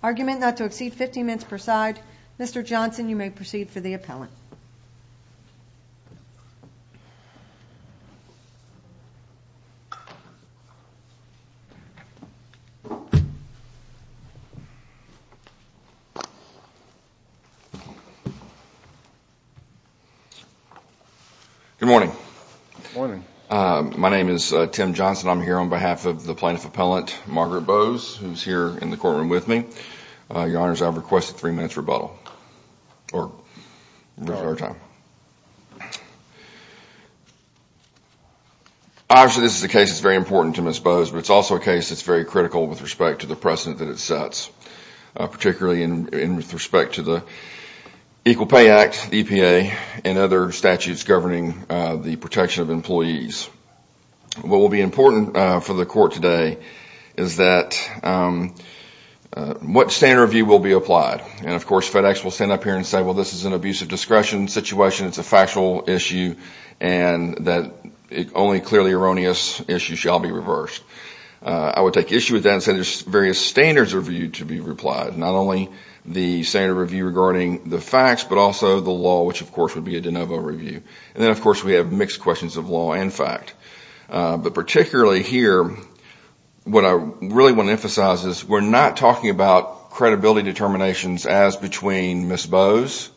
Argument not to exceed 15 minutes per side Mr. Johnson you may proceed for the appellant. Good morning my name is Tim Johnson I'm here on behalf of the plaintiff appellant Margaret Boaz who's here in the courtroom with me. Your honors I requested three minutes rebuttal. Obviously this is the case it's very important to Ms. Boaz but it's also a case that's very critical with respect to the precedent that it sets particularly in with respect to the Equal Pay Act EPA and other statutes governing the protection of employees. What will be important for the court today is that what standard of view will be applied and of course FedEx will stand up here and say well this is an abusive discretion situation it's a factual issue and that it only clearly erroneous issue shall be reversed. I would take issue with that and say there's various standards reviewed to be replied not only the standard review regarding the facts but also the law which of course would be a de novo review and then of course we have mixed questions of law and fact but particularly here what I really want to emphasize is we're not talking about credibility determinations as between Ms. Boaz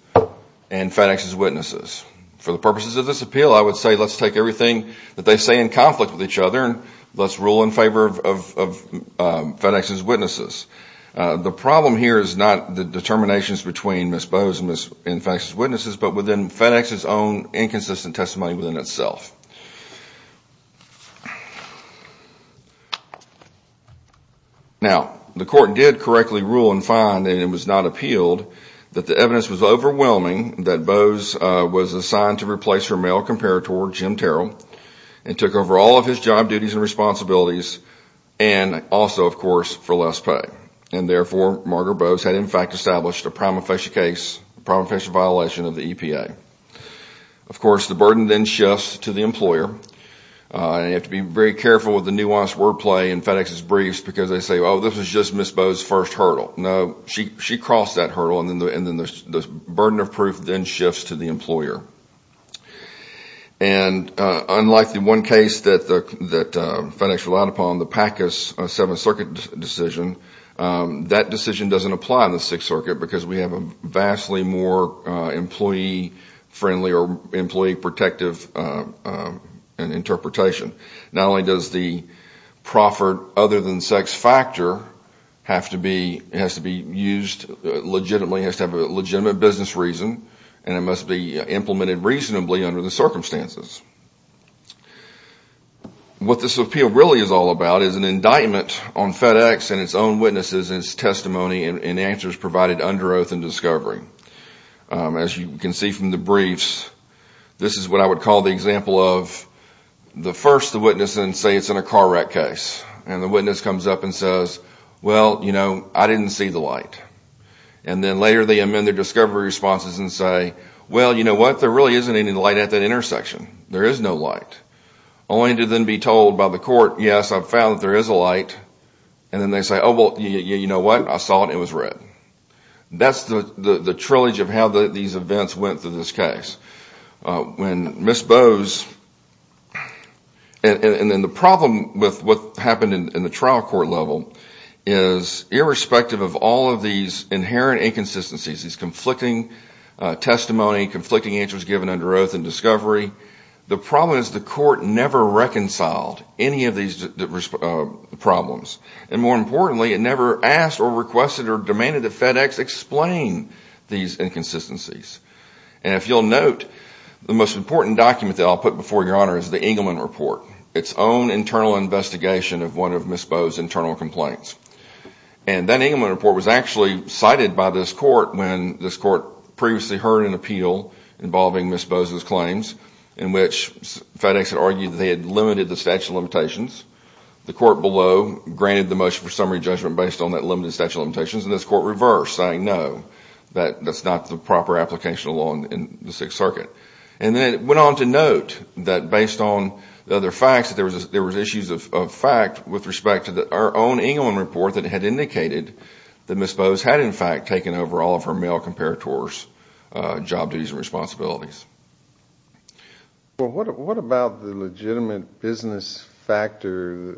and FedEx's witnesses. For the purposes of this appeal I would say let's take everything that they say in conflict with each other and let's rule in favor of FedEx's witnesses. The problem here is not the determinations between Ms. Boaz and FedEx's witnesses but within FedEx's own inconsistent testimony within itself. Now the court did correctly rule and find and it was not appealed that the evidence was overwhelming that Boaz was assigned to replace her male comparator Jim Terrell and took over all of his job duties and responsibilities and also of course for less pay and therefore Margaret Boaz had in fact established a prima facie case, a prima facie violation of the EPA. Of course the burden then shifts to the employer and you have to be very careful with the nuanced wordplay in FedEx's briefs because they say oh this is just Ms. Boaz's first hurdle. No, she crossed that hurdle and then the burden of proof then shifts to the employer and unlike the one case that FedEx relied upon, the Packus Seventh Circuit decision, that decision doesn't apply in the Sixth Circuit because we have a vastly more employee friendly or employee protective interpretation. Not only does the proffered other than sex factor have to be used legitimately, has to have a legitimate business reason and it must be implemented reasonably under the circumstances. What this appeal really is all about is an indictment on FedEx and its own witnesses and its testimony and answers provided under oath and discovery. As you can see from the briefs, this is what I would call the example of the first the witness and say it's in a car wreck case and the witness comes up and says well you know I didn't see the light and then later they amend their discovery responses and say well you know what there really isn't any light at that intersection. There is no light. Only to then be told by the court yes I've found that there is a light and then they say oh well you know what I saw it it was red. That's the the trillage of how these events went through this case. When Ms. Boaz and then the problem with what happened in the trial court level is irrespective of all of these inherent inconsistencies, these conflicting testimony, conflicting answers given under oath and discovery, the problem is the court never reconciled any of these problems and more importantly it never asked or requested or demanded that FedEx explain these inconsistencies. If you'll note the most important document that I'll put before your honor is the Engelman report, its own internal investigation of one of Ms. Boaz's internal complaints and that Engelman report was actually cited by this court when this court previously heard an appeal involving Ms. Boaz's claims in which FedEx had argued that they had limited the statute of limitations. The court below granted the motion for summary judgment based on that limited statute of limitations and this court reversed saying no that that's not the proper application of law in the Sixth Circuit and then it went on to note that based on the other facts that there was there was issues of fact with respect to our own Engelman report that had indicated that Ms. Boaz had in fact taken over all of her male comparators job duties and responsibilities. Well what about the legitimate business factor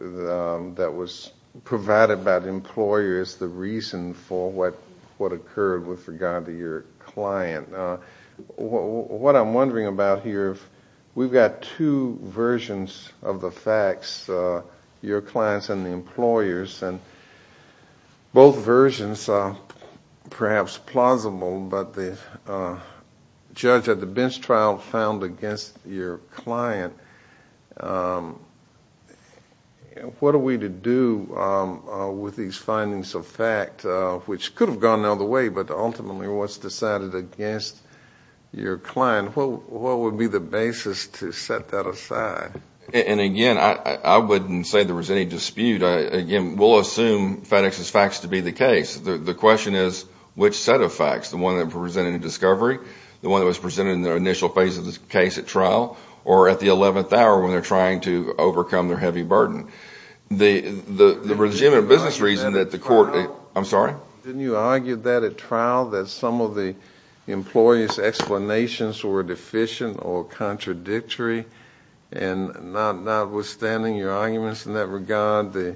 that was provided by the employer as the reason for what what occurred with regard to your client? What I'm wondering about here, we've got two versions of the facts, your clients and the employers and both versions are perhaps plausible but the judge at the bench trial found against your client. What are we to do with these findings of fact which could have gone the other way but ultimately was decided against your client? What would be the basis to set that aside? And again I wouldn't say there was any dispute. Again we'll assume FedEx's facts to be the case. The question is which set of facts? The one that presented in discovery? The one that was presented in the initial phase of this case at trial? Or at the 11th hour when they're trying to overcome their heavy burden? The the legitimate business reason that the court, I'm sorry? Didn't you argue that at trial that some of the employees explanations were deficient or contradictory? And notwithstanding your arguments in that regard the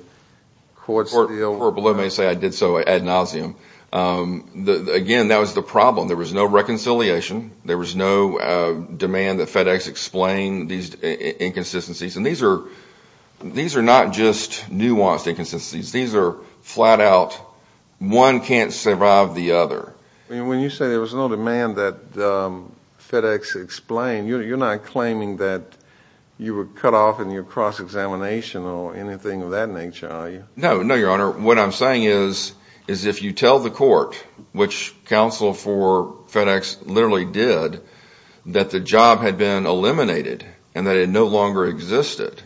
court's deal? I did so ad nauseum. Again that was the problem. There was no reconciliation. There was no demand that FedEx explain these inconsistencies and these are these are not just nuanced inconsistencies. These are flat-out one can't survive the other. When you say there was no demand that FedEx explain, you're not claiming that you were cut off in your cross-examination or anything of that nature are you? No, no your honor. What I'm saying is is if you tell the court, which counsel for FedEx literally did, that the job had been eliminated and that it no longer existed.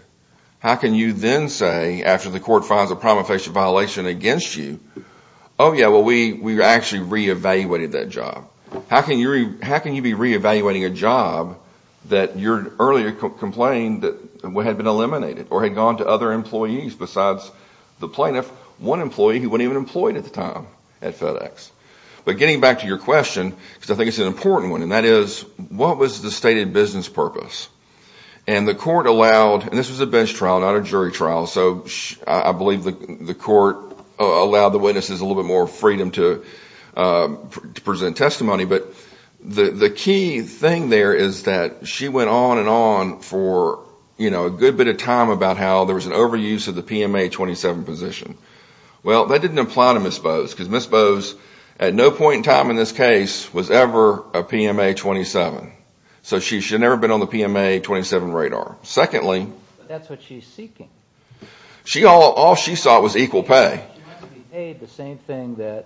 How can you then say after the court finds a crime of violation against you? Oh yeah, well we we actually re-evaluated that job. How can you be re-evaluating a job that your earlier complained that had been eliminated or had gone to other employees besides the plaintiff? One employee who wasn't even employed at the time at FedEx. But getting back to your question, because I think it's an important one, and that is what was the stated business purpose? And the court allowed, and this was a bench trial not a witness, is a little bit more freedom to present testimony. But the key thing there is that she went on and on for you know a good bit of time about how there was an overuse of the PMA 27 position. Well that didn't apply to Ms. Bowes because Ms. Bowes at no point in time in this case was ever a PMA 27. So she should never been on the PMA 27 radar. Secondly, all she sought was equal pay. She had to be paid the same thing that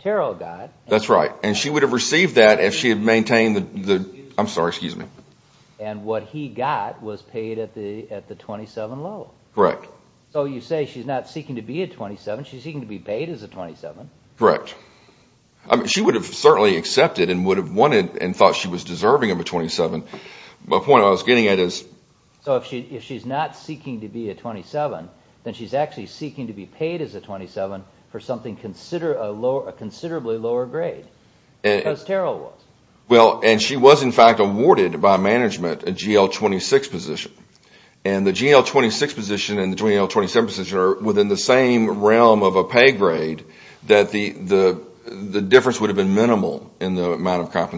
Terrell got. That's right, and she would have received that if she had maintained the the, I'm sorry excuse me. And what he got was paid at the at the 27 level. Correct. So you say she's not seeking to be a 27, she's seeking to be paid as a 27. Correct. She would have certainly accepted and would have wanted and So the point I was getting at is. So if she's not seeking to be a 27, then she's actually seeking to be paid as a 27 for something consider a lower, a considerably lower grade as Terrell was. Well and she was in fact awarded by management a GL 26 position. And the GL 26 position and the GL 27 position are within the same realm of a pay grade that the the the difference would have been minimal in the amount of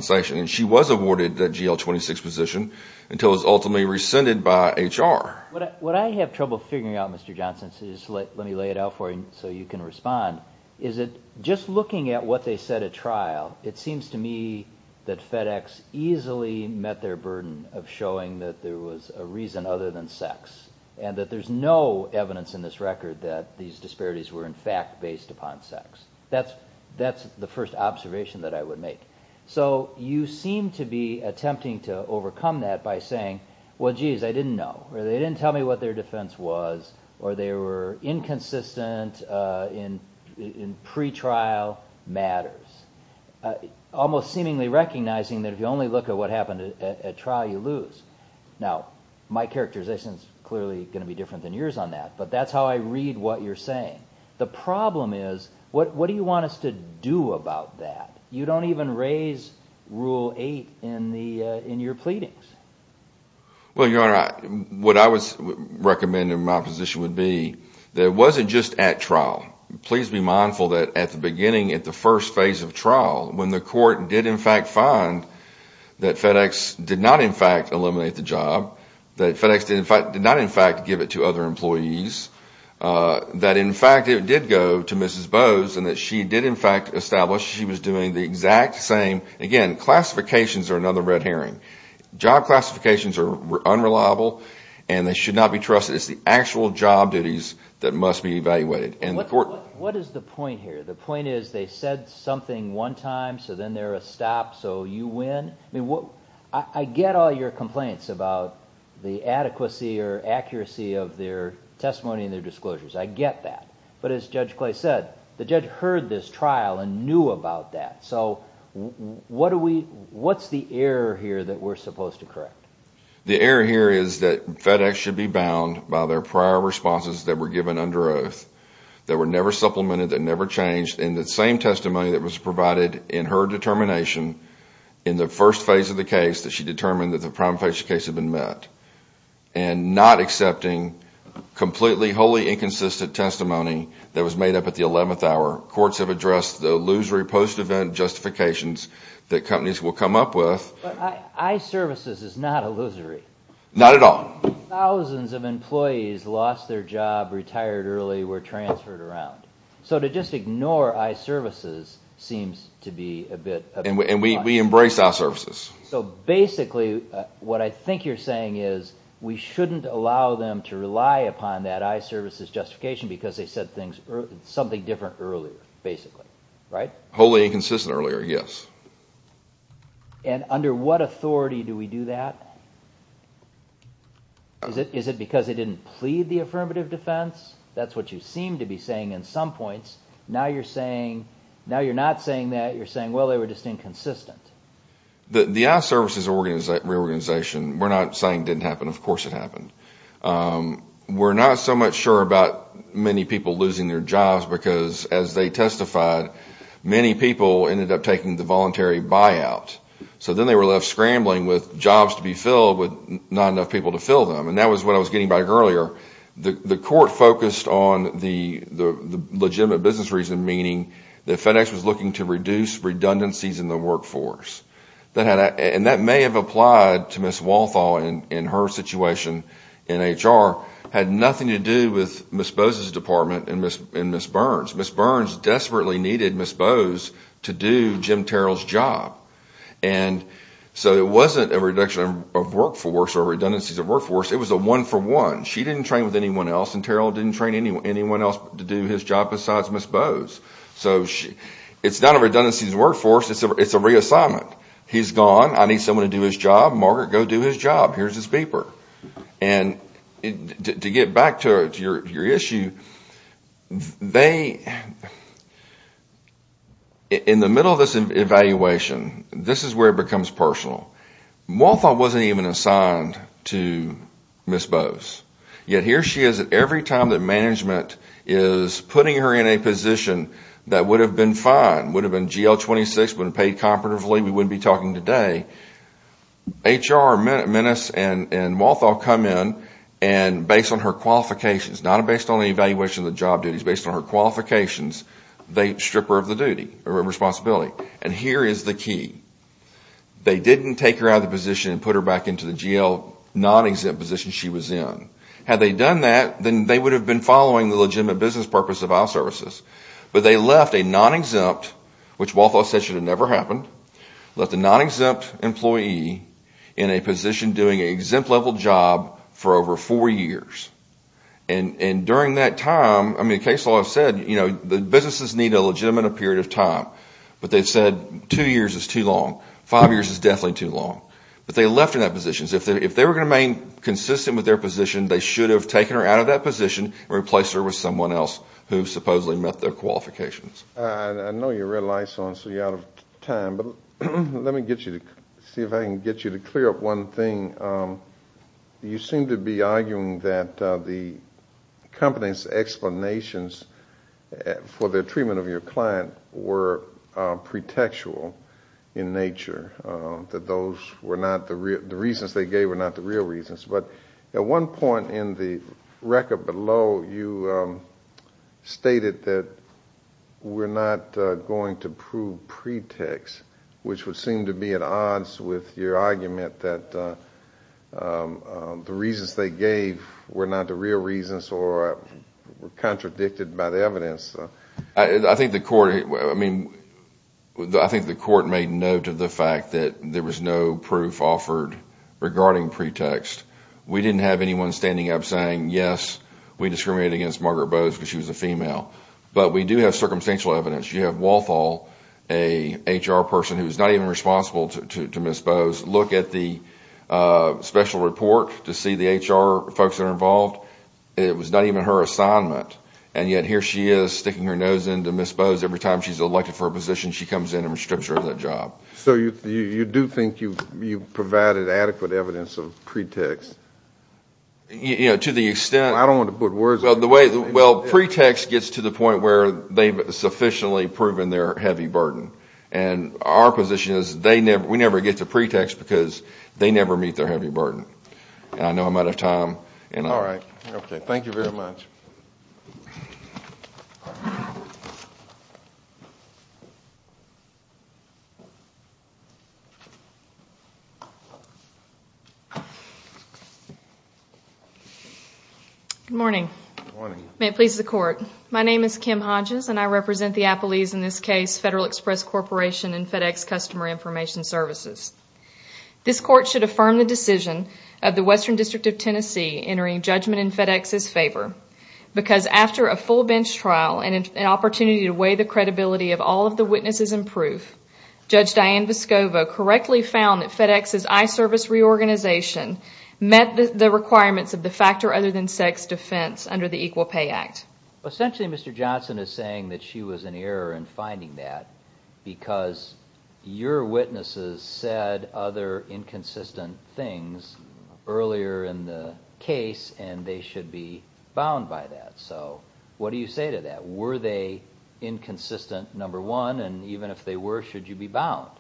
until it was ultimately rescinded by HR. What I have trouble figuring out Mr. Johnson, so just let me lay it out for you so you can respond, is it just looking at what they said at trial, it seems to me that FedEx easily met their burden of showing that there was a reason other than sex and that there's no evidence in this record that these disparities were in fact based upon sex. That's that's the first observation that I would make. So you seem to be saying, well geez I didn't know or they didn't tell me what their defense was or they were inconsistent in in pretrial matters, almost seemingly recognizing that if you only look at what happened at trial you lose. Now my characterization is clearly going to be different than yours on that, but that's how I read what you're saying. The problem is what what do you want us to do about that? You don't even raise rule 8 in the in your pleadings. Well your honor, what I would recommend in my position would be that it wasn't just at trial. Please be mindful that at the beginning at the first phase of trial when the court did in fact find that FedEx did not in fact eliminate the job, that FedEx did not in fact give it to other employees, that in fact established she was doing the exact same. Again, classifications are another red herring. Job classifications are unreliable and they should not be trusted. It's the actual job duties that must be evaluated. What is the point here? The point is they said something one time so then there a stop so you win. I mean what I get all your complaints about the adequacy or accuracy of their testimony and their disclosures. I get that. But as Judge I was at trial and knew about that. So what's the error here that we're supposed to correct? The error here is that FedEx should be bound by their prior responses that were given under oath that were never supplemented, that never changed in the same testimony that was provided in her determination in the first phase of the case that she determined that the prime facial case had been met and not accepting completely wholly inconsistent testimony that was made up at the 11th hour. Courts have addressed the illusory post-event justifications that companies will come up with. I-Services is not illusory. Not at all. Thousands of employees lost their job, retired early, were transferred around. So to just ignore I-Services seems to be a bit... And we embrace I-Services. So basically what I think you're saying is we shouldn't allow them to rely upon that I-Services justification because they said something different earlier, basically, right? Wholly inconsistent earlier, yes. And under what authority do we do that? Is it because they didn't plead the affirmative defense? That's what you seem to be saying in some points. Now you're saying... Now you're not saying that. You're saying, well, they were just inconsistent. The I-Services reorganization, we're not saying didn't happen. Of course it happened. We're not so much sure about many people losing their jobs because as they testified, many people ended up taking the voluntary buyout. So then they were left scrambling with jobs to be filled with not enough people to fill them. And that was what I was getting back earlier. The court focused on the legitimate business reason, meaning that FedEx was looking to reduce redundancies in the workforce. And that may have applied to Ms. Walthall in her situation in HR. It had nothing to do with Ms. Bose's department and Ms. Burns. Ms. Burns desperately needed Ms. Bose to do Jim Terrell's job. And so it wasn't a reduction of workforce or redundancies of workforce. It was a one-for-one. She didn't train with anyone else and Terrell didn't train anyone else to do his job besides Ms. Bose. So it's not a redundancies workforce. It's a reassignment. He's gone. I need someone to do his job. Margaret, go do his job. Here's his beeper. And to get back to your issue, in the middle of this evaluation, this is where it becomes personal. Walthall wasn't even assigned to Ms. Bose. Yet here she is at every time that management is putting her in a position that would have been fine, would have been GL-26, would have been paid comparatively, we wouldn't be talking today. HR, Menace and Walthall come in and based on her qualifications, not based on the evaluation of the job duties, based on her qualifications, they strip her of the duty or responsibility. And here is the key. They didn't take her out of the position and put her back into the GL non-exempt position she was in. Had they done that, then they would have been following the legitimate business purpose of our services. But they left a non-exempt, which Walthall said should have never happened, left a non-exempt employee in a position doing an exempt level job for over four years. And during that time, the case law said the businesses need a legitimate period of time. But they said two years is too long. Five years is definitely too long. But they left her in that position. If they were going to remain consistent with their position, they should have taken her out of that position and replaced her with someone else who supposedly met their qualifications. I know you're red lights on, so you're out of time. But let me see if I can get you to clear up one thing. You seem to be arguing that the company's explanations for their treatment of your client were pretextual in nature, that those were not the reasons they gave were not the real reasons. But at one point, you said, well, we're not going to prove pretext, which would seem to be at odds with your argument that the reasons they gave were not the real reasons or were contradicted by the evidence. I think the court made note of the fact that there was no proof offered regarding pretext. We didn't have anyone standing up saying, yes, we do have circumstantial evidence. You have Walthall, a HR person who is not even responsible to Ms. Bowes, look at the special report to see the HR folks that are involved. It was not even her assignment. And yet here she is, sticking her nose into Ms. Bowes. Every time she's elected for a position, she comes in and restricts her of that job. So you do think you provided adequate evidence of pretext? Well, pretext gets to the point where they've sufficiently proven their heavy burden. And our position is we never get to pretext because they never meet their heavy burden. And I know I'm out of time. All right. Okay. Thank you very much. Good morning. May it please the court. My name is Kim Hodges and I represent the Appleys, in this case, Federal Express Corporation and FedEx Customer Information Services. This court should affirm the decision of the Western District of Tennessee entering judgment in FedEx's favor because after a full bench trial and an opportunity to weigh the credibility of all of the witnesses in proof, Judge Diane Vescovo correctly found that FedEx's iService reorganization met the requirements of the factor other than sex defense under the Equal Pay Act. Essentially, Mr. Johnson is saying that she was in error in finding that because your witnesses said other inconsistent things earlier in the case and they should be bound by that. So what do you say to that? Were they inconsistent, number one, and even if they were, should you be bound?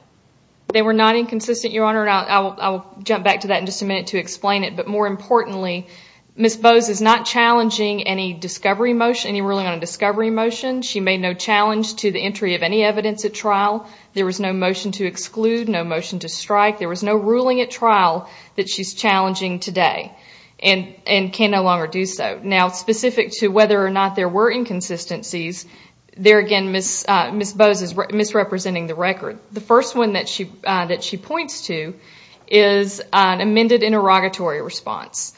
They were not inconsistent, Your Honor. I'll jump back to that in just a minute to explain it. But more importantly, Ms. Bose is not challenging any discovery motion, any ruling on a discovery motion. She made no challenge to the entry of any evidence at trial. There was no motion to exclude, no motion to strike. There was no ruling at trial that she's challenging today and can no longer do so. Now, specific to whether or not there were inconsistencies, there again, Ms. Bose is misrepresenting the record. The first one that she points to is an amended interrogatory response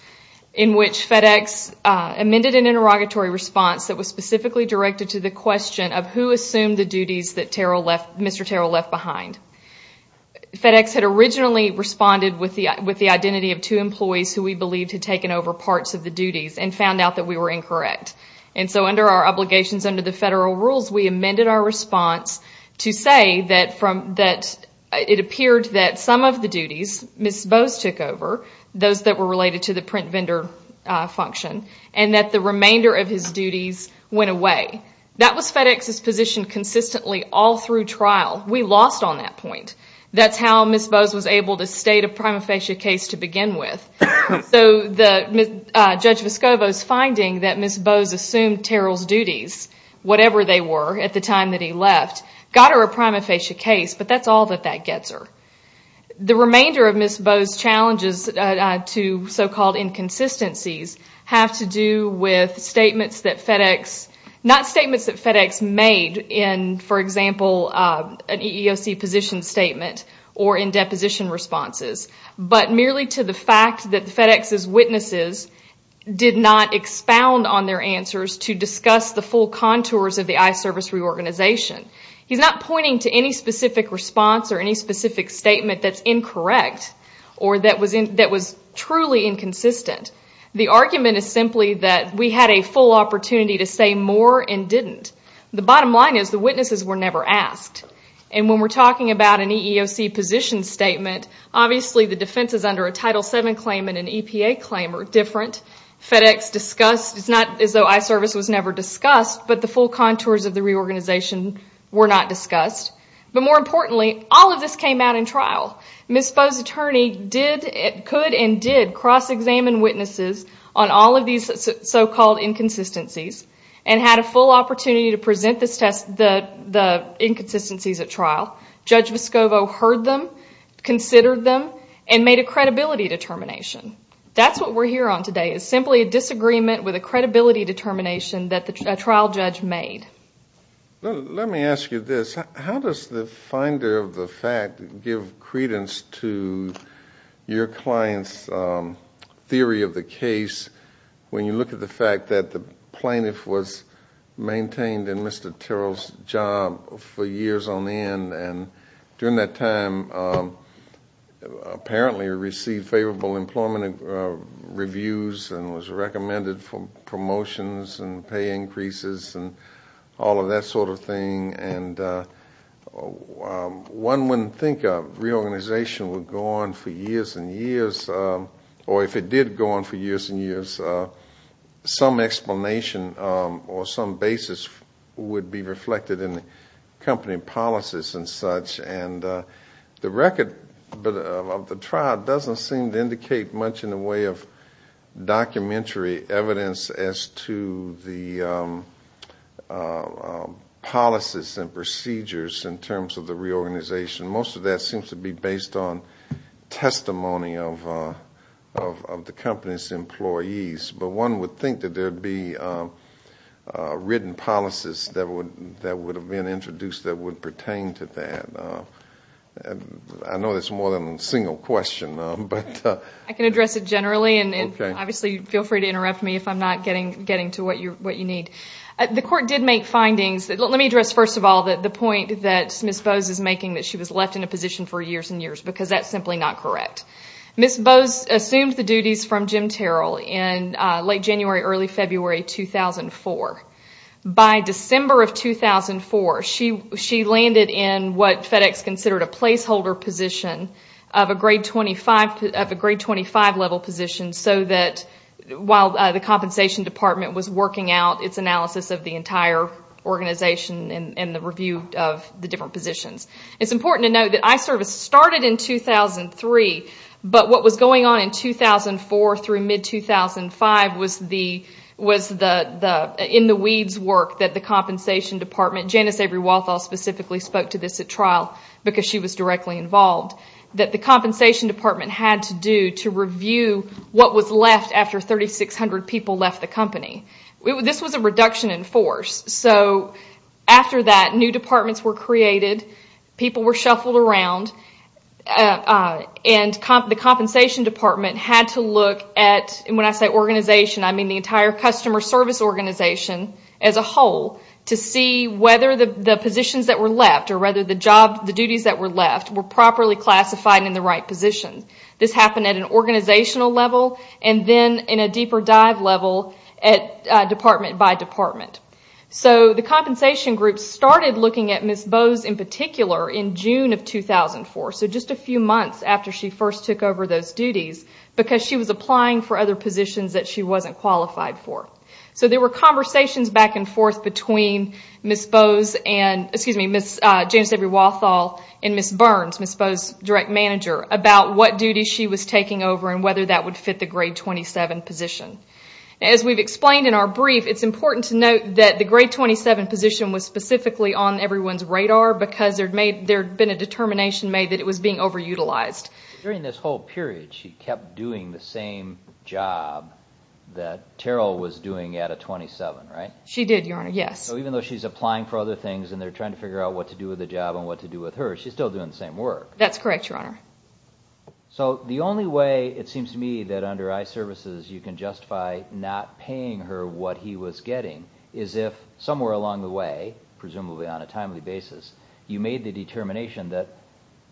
in which FedEx amended an interrogatory response that was specifically directed to the question of who assumed the duties that Mr. Terrell left behind. FedEx had originally responded with the identity of two employees who we believed had taken over parts of the duties and found out that we were incorrect. And so under our obligations under the federal rules, we amended our response to say that it appeared that some of the duties Ms. Bose took over, those that were related to the print vendor function, and that the remainder of his duties went away. That was FedEx's position consistently all through trial. We lost on that point. That's how Ms. Bose was able to state a prima facie case to begin with. So Judge Vescovo's claim that Ms. Bose assumed Terrell's duties, whatever they were at the time that he left, got her a prima facie case, but that's all that that gets her. The remainder of Ms. Bose's challenges to so-called inconsistencies have to do with statements that FedEx, not statements that FedEx made in, for example, an EEOC position statement or in deposition responses, but merely to the answers to discuss the full contours of the I-Service reorganization. He's not pointing to any specific response or any specific statement that's incorrect or that was truly inconsistent. The argument is simply that we had a full opportunity to say more and didn't. The bottom line is the witnesses were never asked. And when we're talking about an EEOC position statement, obviously the defense is under a Title VII claim and an EPA claim are different. FedEx is not as though I-Service was never discussed, but the full contours of the reorganization were not discussed. But more importantly, all of this came out in trial. Ms. Bose's attorney could and did cross-examine witnesses on all of these so-called inconsistencies and had a full opportunity to present the inconsistencies at trial. Judge Vescovo heard them, considered them, and made a credibility determination. That's what we're here on today, is simply a disagreement with a credibility determination that a trial judge made. Let me ask you this. How does the finder of the fact give credence to your client's theory of the case when you look at the fact that the plaintiff was maintained in Mr. Terrell's job for years on end and during that time apparently received favorable employment reviews and was recommended for promotions and pay increases and all of that sort of thing? And one wouldn't think a reorganization would go on for years and years, or if it did go on for years and years, some explanation or some basis would be reflected in the company policies and such, and the record of the trial doesn't seem to indicate much in the way of documentary evidence as to the policies and procedures in terms of the reorganization. Most of that seems to be based on testimony of the company's employees, but one would think that there'd be written policies that would have been introduced that would pertain to that. I know that's more than a single question. I can address it generally, and obviously feel free to interrupt me if I'm not getting to what you need. The court did make findings. Let me address first of all the point that Ms. Bowes is making, that she was left in a position for years and years, because that's simply not correct. Ms. Bowes assumed the duties from Jim Terrell in late January, early February 2004. By December of 2004, she landed in what FedEx considered a placeholder position of a grade 25 level position, so that while the compensation department was working out its analysis of the entire organization and the review of the different positions. It's important to note that iService started in 2003, but what was going on in 2004 through mid-2005 was in the weeds work that the compensation department, Janice Avery Walthall specifically spoke to this at trial, because she was directly involved, that the compensation department had to do to review what was left after 3,600 people left the company. This was a reduction in force, so after that new departments were created, people were shuffled around, and the compensation department had to look at, when I say organization, I mean the entire customer service organization as a whole, to see whether the positions that were left, or rather the duties that were left, were properly classified in the right position. This happened at an organizational level, and then in a deeper dive level at department by department. The compensation group started looking at Ms. Bowes in particular in June of 2004, so just a few months after she first took over those duties, because she was applying for other positions that she wasn't qualified for. There were conversations back and forth between Ms. Bowes, excuse me, Janice Avery Walthall, and Ms. Burns, Ms. Bowes' direct manager, about what duties she was taking over, and whether that would fit the grade 27 position. As we've explained in our brief, it's important to note that the grade 27 position was specifically on everyone's radar, because there'd been a determination made that it was being overutilized. During this whole period, she kept doing the same job that Terrell was doing at a 27, right? She did, Your Honor, yes. So even though she's applying for other things, and they're trying to figure out what to do with the job, and what to do with her, she's still doing the same work. That's correct, Your Honor. So the only way, it seems to me, that under iServices you can justify not paying her what he was getting, is if somewhere along the way, presumably on a timely basis, you made the determination that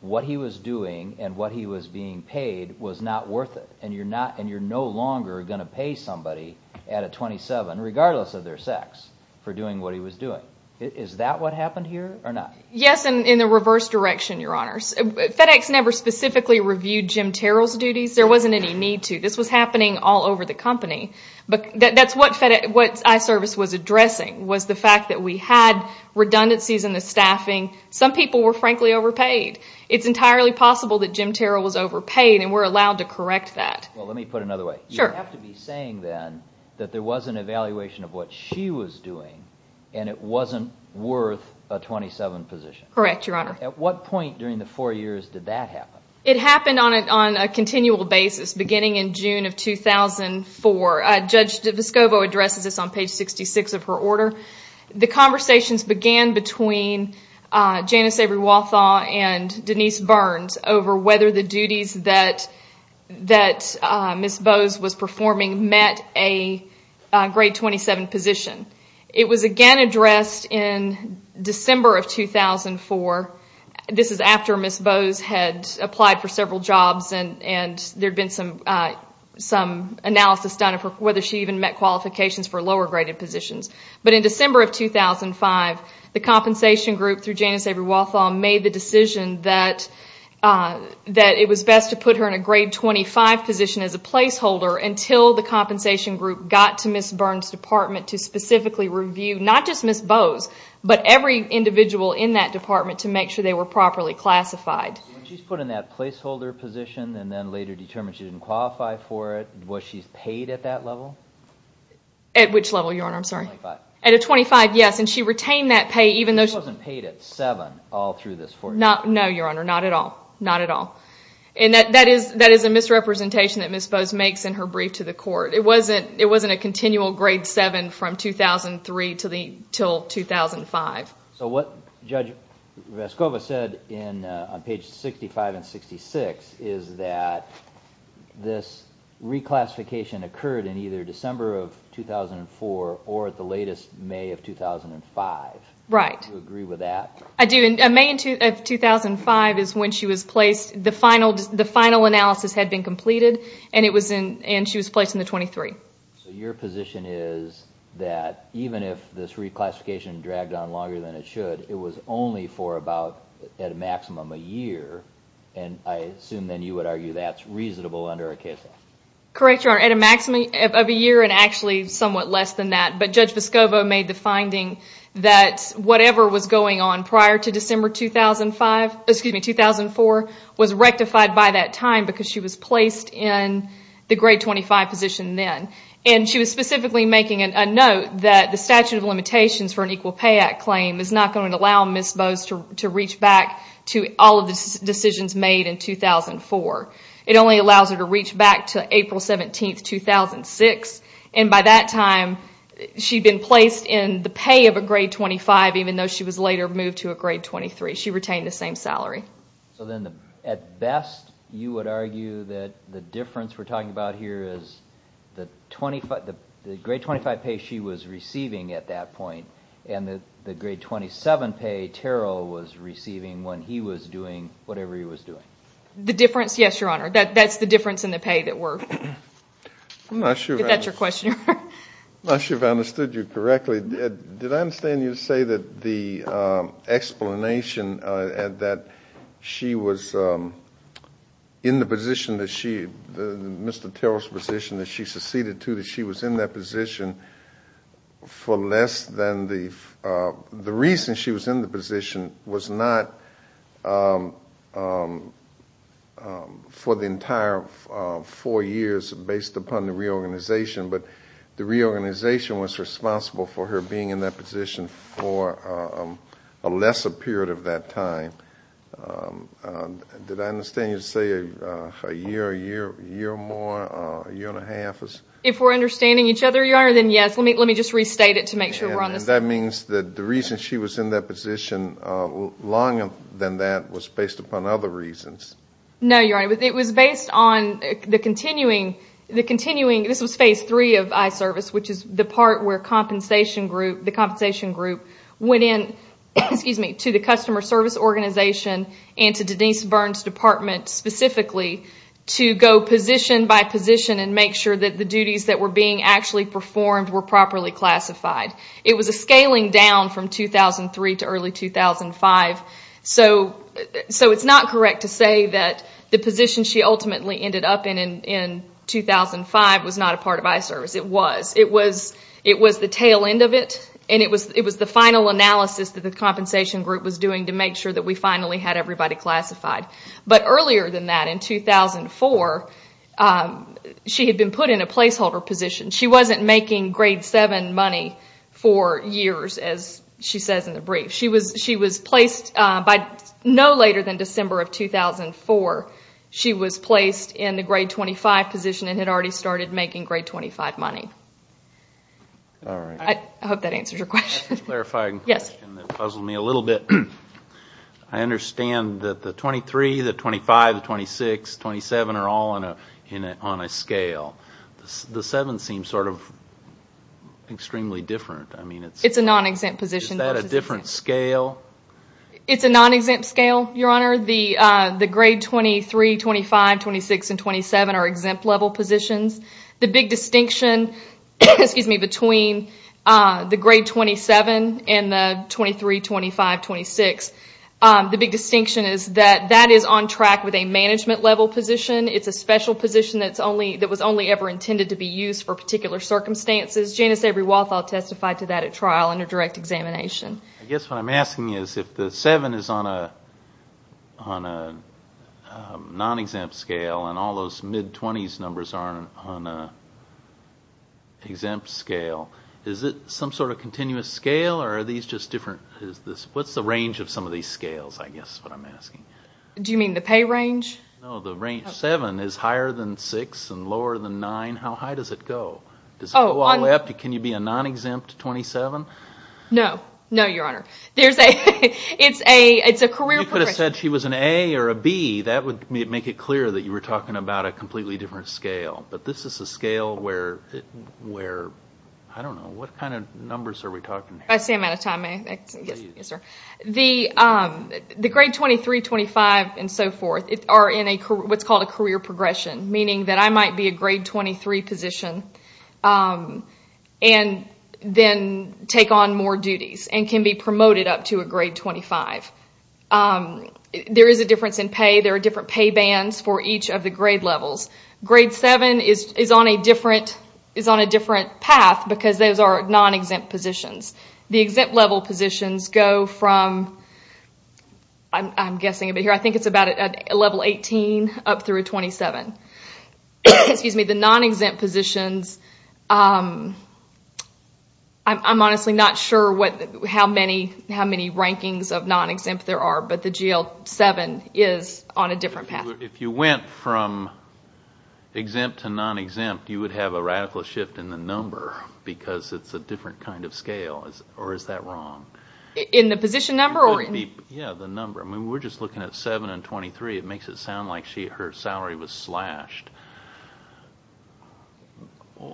what he was doing, and what he was being paid, was not worth it, and you're not, and you're no longer going to pay somebody at a 27, regardless of their sex, for doing what he was doing. Is that what happened here, or not? Yes, and in the reverse direction, Your Honor. FedEx never specifically reviewed Jim Terrell's duties. There wasn't any need to. This was happening all over the company, but that's what iService was addressing, was the fact that we had redundancies in the staffing. Some people were, frankly, overpaid. It's entirely possible that Jim Terrell was overpaid, and we're allowed to correct that. Well, let me put it another way. You have to be saying, then, that there was an evaluation of what she was doing, and it wasn't worth a 27 position. Correct, Your Honor. At what point during the four years did that happen? It happened on a continual basis, beginning in June of 2004. Judge Vescovo addresses this on page 66 of her order. The conversations began between Janice Avery-Walthaw and Denise Burns over whether the duties that Ms. Bowes was performing met a grade 27 position. It was again addressed in December of 2004. This is after Ms. Bowes had applied for several jobs, and there'd been some analysis done of whether she even met qualifications for lower graded positions. In December of 2005, the compensation group, through Janice Avery-Walthaw, made the decision that it was best to put her in a grade 25 position as a placeholder until the compensation group got to Ms. Burns' department to specifically review, not just Ms. Bowes, but every individual in that department to make sure they were properly classified. When she's put in that placeholder position and then later determined she didn't qualify for it, was she paid at that level? At which level, Your Honor? I'm sorry. At a 25, yes, and she retained that pay even though she wasn't paid at 7 all through this four years. No, Your Honor, not at all, not at all. That is a misrepresentation that Ms. Bowes makes in her brief to the court. It wasn't a continual grade 7 from is that this reclassification occurred in either December of 2004 or at the latest May of 2005. Right. Do you agree with that? I do, and May of 2005 is when she was placed. The final analysis had been completed, and she was placed in the 23. So your position is that even if this reclassification dragged on longer than it should, it was only for about, at a maximum, a year, and I assume then you would argue that's reasonable under a case like this. Correct, Your Honor, at a maximum of a year and actually somewhat less than that, but Judge Vescovo made the finding that whatever was going on prior to December 2005, excuse me, 2004, was rectified by that time because she was placed in the grade 25 position then. She was specifically making a note that the statute of limitations for an Equal Pay Act claim is not going to allow Ms. Bowes to reach back to all of the decisions made in 2004. It only allows her to reach back to April 17, 2006, and by that time, she'd been placed in the pay of a grade 25 even though she was later moved to a grade 23. She retained the same salary. So then at best, you would argue that the difference we're talking about here is the grade 25 pay she was receiving at that point and the grade 27 pay Terrell was receiving when he was doing whatever he was doing. The difference, yes, Your Honor. That's the difference in the pay that we're... I'm not sure if I understood you correctly. Did I understand you to say that the explanation that she was in the position that she, Mr. Terrell's position that she was in that position for less than the... The reason she was in the position was not for the entire four years based upon the reorganization, but the reorganization was responsible for her being in that position for a lesser period of that time. Did I understand you to say a year, a year, a year more, a year and a half? If we're understanding each other, Your Honor, then yes. Let me just restate it to make sure we're on the same page. That means that the reason she was in that position longer than that was based upon other reasons. No, Your Honor. It was based on the continuing... This was phase three of iService, which is the part where the compensation group went in to the customer service organization and to Denise specifically to go position by position and make sure that the duties that were being actually performed were properly classified. It was a scaling down from 2003 to early 2005. So it's not correct to say that the position she ultimately ended up in in 2005 was not a part of iService. It was. It was the tail end of it and it was the final analysis that the compensation group was doing to make sure that we finally had everybody classified. But earlier than that, in 2004, she had been put in a placeholder position. She wasn't making grade seven money for years, as she says in the brief. She was placed by no later than December of 2004. She was placed in the grade 25 position and had already started making grade 25 money. I hope that answers your question. Clarifying question that puzzled me a little bit. I understand that the 23, the 25, the 26, 27 are all on a scale. The seven seems sort of extremely different. It's a non-exempt position. Is that a different scale? It's a non-exempt scale, Your Honor. The grade 23, 25, 26, and 27 are exempt level positions. The big distinction between the grade 27 and the 23, 25, 26, the big distinction is that that is on track with a management level position. It's a special position that was only ever intended to be used for particular circumstances. Janice Avery-Walthall testified to that at trial under direct examination. I guess what I'm asking is if the seven is on a non-exempt scale and all those mid-20s numbers are on an exempt scale, is it some sort of continuous scale or are these just different? What's the range of some of these scales, I guess, is what I'm asking. Do you mean the pay range? No, the range seven is higher than six and lower than nine. How high does it go? Can you be a non-exempt 27? No, no, Your Honor. It's a career progression. You could have said she was an A or a B. That would make it clear that you were talking about a completely different scale, but this is a scale where, I don't know, what kind of numbers are we talking here? I see I'm out of time. The grade 23, 25 and so forth are in what's called a career progression, meaning that I might be a grade 23 position and then take on more duties and can be promoted up to a grade 25. There is a difference in pay. There are different pay bands for each of the grade levels. Grade 7 is on a different path because those are non-exempt positions. The exempt level positions go from, I'm guessing, I think it's about level 18 up through 27. The non-exempt positions, I'm honestly not sure how many rankings of non-exempt there are, but the GL 7 is on a different path. If you went from exempt to non-exempt, you would have a radical shift in the number because it's a different kind of scale, or is that wrong? In the position number or in? Yeah, the number. We're just looking at 7 and 23. It makes it sound like her salary was slashed.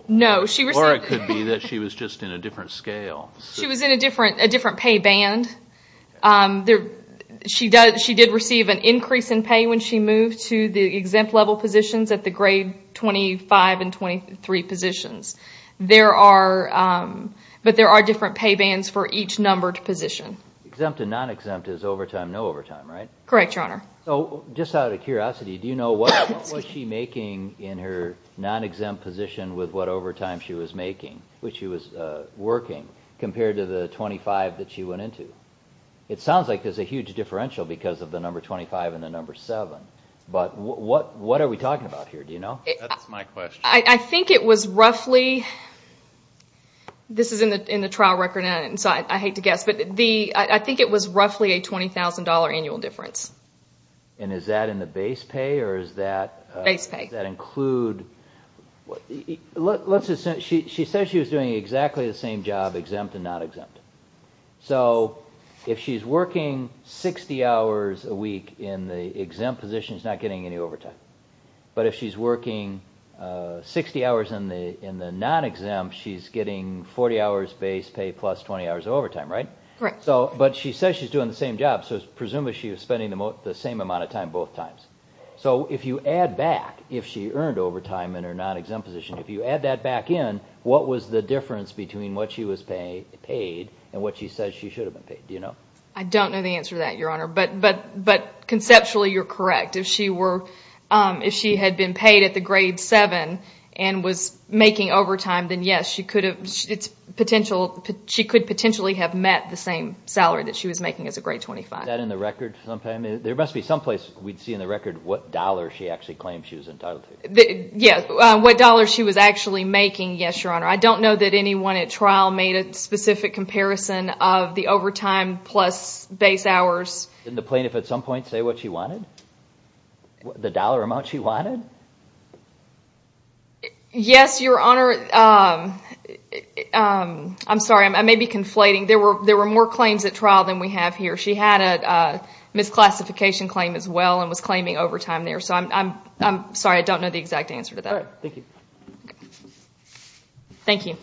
No, she was... Or it could be that she was just in a different scale. She was in a different pay band. She did receive an increase in pay when she moved to the exempt level positions at the grade 25 and 23 positions. There are different pay bands for each numbered position. Exempt and non-exempt is overtime, no overtime, right? Correct, Your Honor. Just out of curiosity, do you know what was she making in her non-exempt position with what overtime she was making, which she was working, compared to the 25 that she went into? It sounds like there's a huge differential because of the number 25 and the number 7, but what are we talking about here? Do you know? That's my question. I think it was roughly... This is in the trial record, and so I hate to guess, but I think it was roughly a $20,000 annual difference. Is that in the base pay or is that... Base pay. That include... She said she was doing exactly the same job, exempt and non-exempt. So if she's working 60 hours a week in the exempt position, she's not getting any overtime. But if she's working 60 hours in the non-exempt, she's getting 40 hours base pay plus 20 hours of overtime, right? Correct. But she says she's doing the same job, so presumably she was spending the same amount of time both times. So if you add back, if she earned overtime in her non-exempt position, if you add that back in, what was the difference between what she was paid and what she says she should have been paid? Do you know? I don't know the answer to that, Your Honor, but conceptually you're correct. If she had been paid at the grade 7 and was making overtime, then yes, she could potentially have met the same salary that she was making as a grade 25. Is that in the record? There must be someplace we'd see in the record what dollar she actually claimed she was entitled to. Yes, what dollar she was actually making, yes, Your Honor. I don't know that anyone at trial made a specific comparison of the overtime plus base hours. Didn't the plaintiff at some point say what she wanted? The dollar amount she wanted? Yes, Your Honor. I'm sorry, I may be conflating. There were more claims at trial than we have here. She had a misclassification claim as well and was claiming overtime there. I'm sorry, I don't know the exact answer to that. Thank you.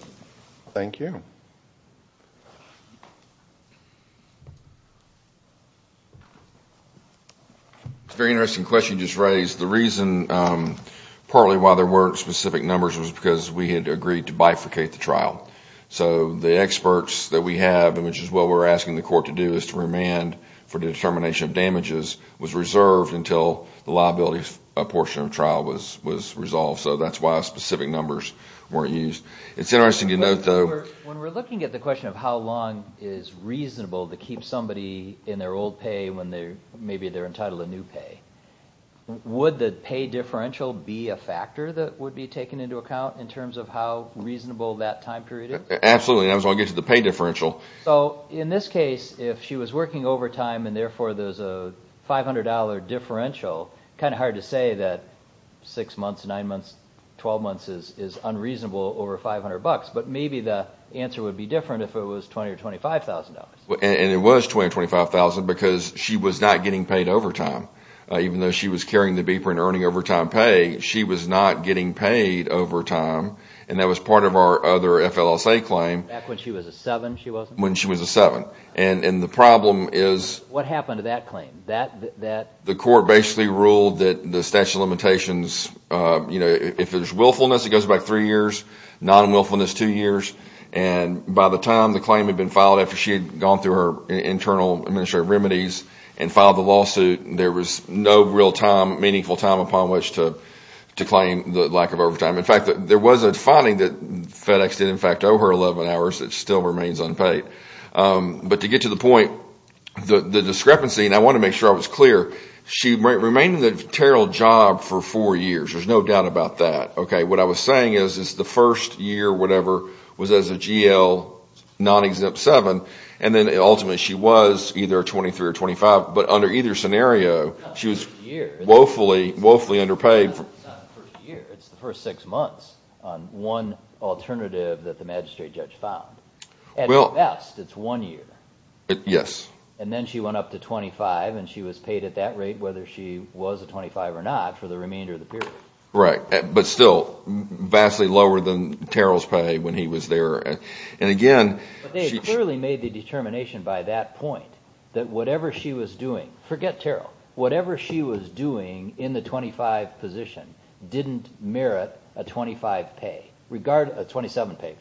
It's a very interesting question you just raised. The reason partly why there weren't specific numbers was because we had agreed to bifurcate the trial. The experts that we have, which is what we're asking the court to do, is to remand for the determination of damages, was reserved until the liability portion of the trial was resolved. That's why specific numbers weren't used. It's interesting to note, though- When we're looking at the question of how long is reasonable to keep somebody in their old pay when maybe they're entitled to new pay, would the pay differential be a factor that would be taken into account in terms of how reasonable that time period is? Absolutely. I was going to get to the pay differential. In this case, if she was working overtime and therefore there's a $500 differential, kind of hard to say that six months, nine months, 12 months is unreasonable over $500, but maybe the answer would be different if it was $20,000 or $25,000. It was $20,000 or $25,000 because she was not getting paid overtime. Even though she was carrying the beeper and earning overtime pay, she was not getting paid overtime. That was part of our other FLSA claim. Back when she was a seven, she was? When she was a seven. The problem is- What happened to that claim? The court basically ruled that the statute of limitations, if there's willfulness, it goes back three years, non-willfulness, two years. By the time the claim had been filed after she had gone through her internal administrative remedies and filed the lawsuit, there was no real time, meaningful time upon which to claim the lack of overtime. There was a finding that FedEx did in fact owe her 11 hours. It still remains unpaid. To get to the point, the discrepancy, and I want to make sure I was clear, she remained in the Terrell job for four years. There's no doubt about that. What I was saying is, it's the first year, whatever, was as a GL, non-exempt seven, and then ultimately she was either a 23 or 25, but under either scenario, she was woefully underpaid. It's not the first year, it's the first six months on one alternative that the magistrate judge found. At best, it's one year. Yes. Then she went up to 25 and she was paid at that rate, whether she was a 25 or not, for the remainder of the period. But still vastly lower than Terrell's pay when he was there. They clearly made the determination by that point that whatever she was doing, forget merit a 25 pay, a 27 pay,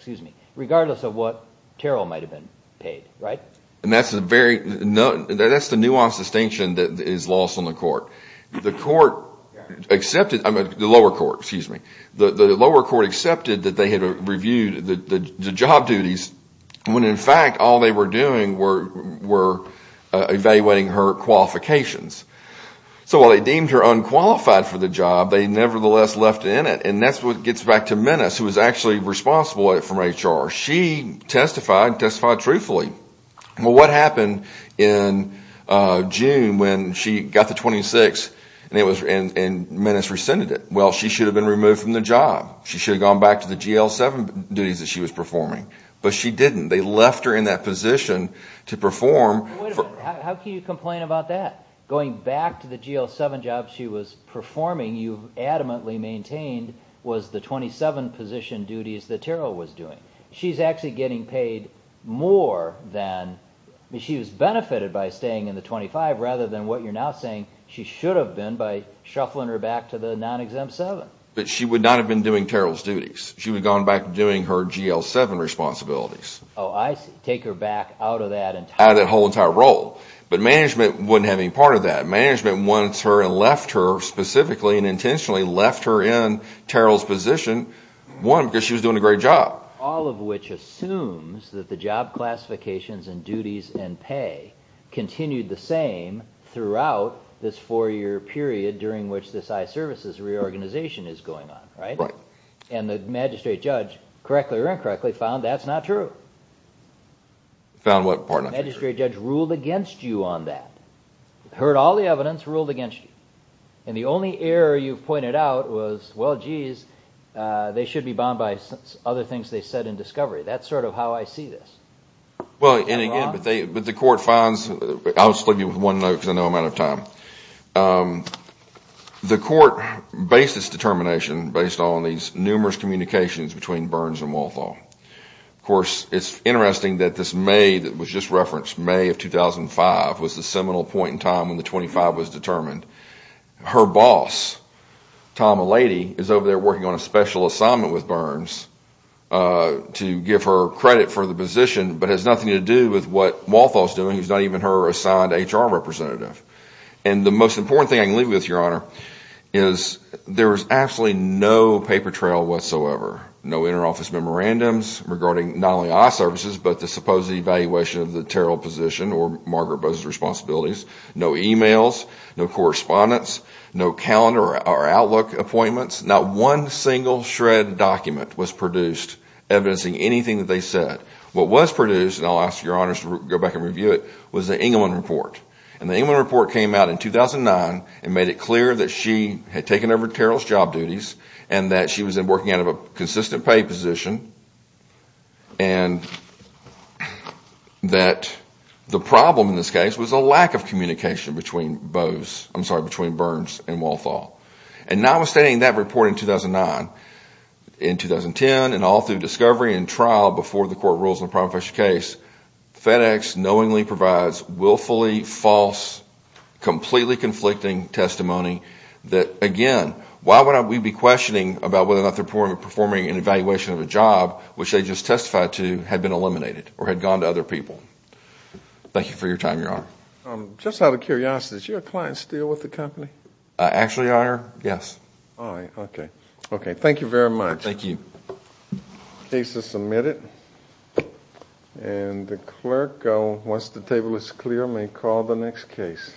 regardless of what Terrell might have been paid. That's the nuanced distinction that is lost on the lower court. The lower court accepted that they had reviewed the job duties when in fact all they were doing were evaluating her qualifications. While they deemed her unqualified for the job, they nevertheless left it in it. That's what gets back to Menis, who was actually responsible for HR. She testified, testified truthfully. What happened in June when she got the 26 and Menis rescinded it? She should have been removed from the job. She should have gone back to the GL seven duties that she was performing. But she didn't. They left her in that position to perform. How can you complain about that? Going back to the GL seven job she was performing, you adamantly maintained, was the 27 position duties that Terrell was doing. She's actually getting paid more than, she was benefited by staying in the 25 rather than what you're now saying she should have been by shuffling her back to the non-exempt seven. She would not have been doing Terrell's duties. She would have gone back to doing her GL seven responsibilities. I take her back out of that entirely. Out of that whole entire role. But management wouldn't have any part of that. Management wants her and left her specifically and intentionally left her in Terrell's position. One, because she was doing a great job. All of which assumes that the job classifications and duties and pay continued the same throughout this four year period during which this iServices reorganization is going on, right? Right. And the magistrate judge, correctly or incorrectly, found that's not true. Found what part not to be true? The magistrate judge ruled against you on that. Heard all the evidence, ruled against you. And the only error you pointed out was, well, geez, they should be bound by other things they said in discovery. That's sort of how I see this. Well, and again, but the court finds, I'll just leave you with one note because I know I'm out of time. The court based its determination based on these numerous communications between Burns and Walthall. Of course, it's interesting that this May that was just referenced, May of 2005, was the seminal point in time when the 25 was determined. Her boss, Tom Alady, is over there working on a special assignment with Burns to give her credit for the position but has nothing to do with what Walthall's doing. He's not even her assigned HR representative. And the most important thing I can leave you with, Your Honor, is there was absolutely no paper trail whatsoever. No inter-office memorandums regarding not only our services but the supposed evaluation of the Terrell position or Margaret Bowe's responsibilities. No emails, no correspondence, no calendar or outlook appointments. Not one single shred document was produced evidencing anything that they said. What was produced, and I'll ask Your Honors to go back and review it, was the Engleman report. And the Engleman report came out in 2009 and made it clear that she had taken over Terrell's job duties and that she was working out of a consistent pay position and that the problem in this case was a lack of communication between Burns and Walthall. And notwithstanding that report in 2009, in 2010, and all through discovery and trial before the court rules in the Professor's case, FedEx knowingly provides willfully false, completely conflicting testimony that, again, why would we be questioning about whether or not they're performing an evaluation of a job which they just testified to had been eliminated or had gone to other people? Thank you for your time, Your Honor. Just out of curiosity, is your client still with the company? Actually, Your Honor, yes. All right. Okay. Okay. Thank you very much. Thank you. The case is submitted. And the clerk, once the table is clear, may call the next case.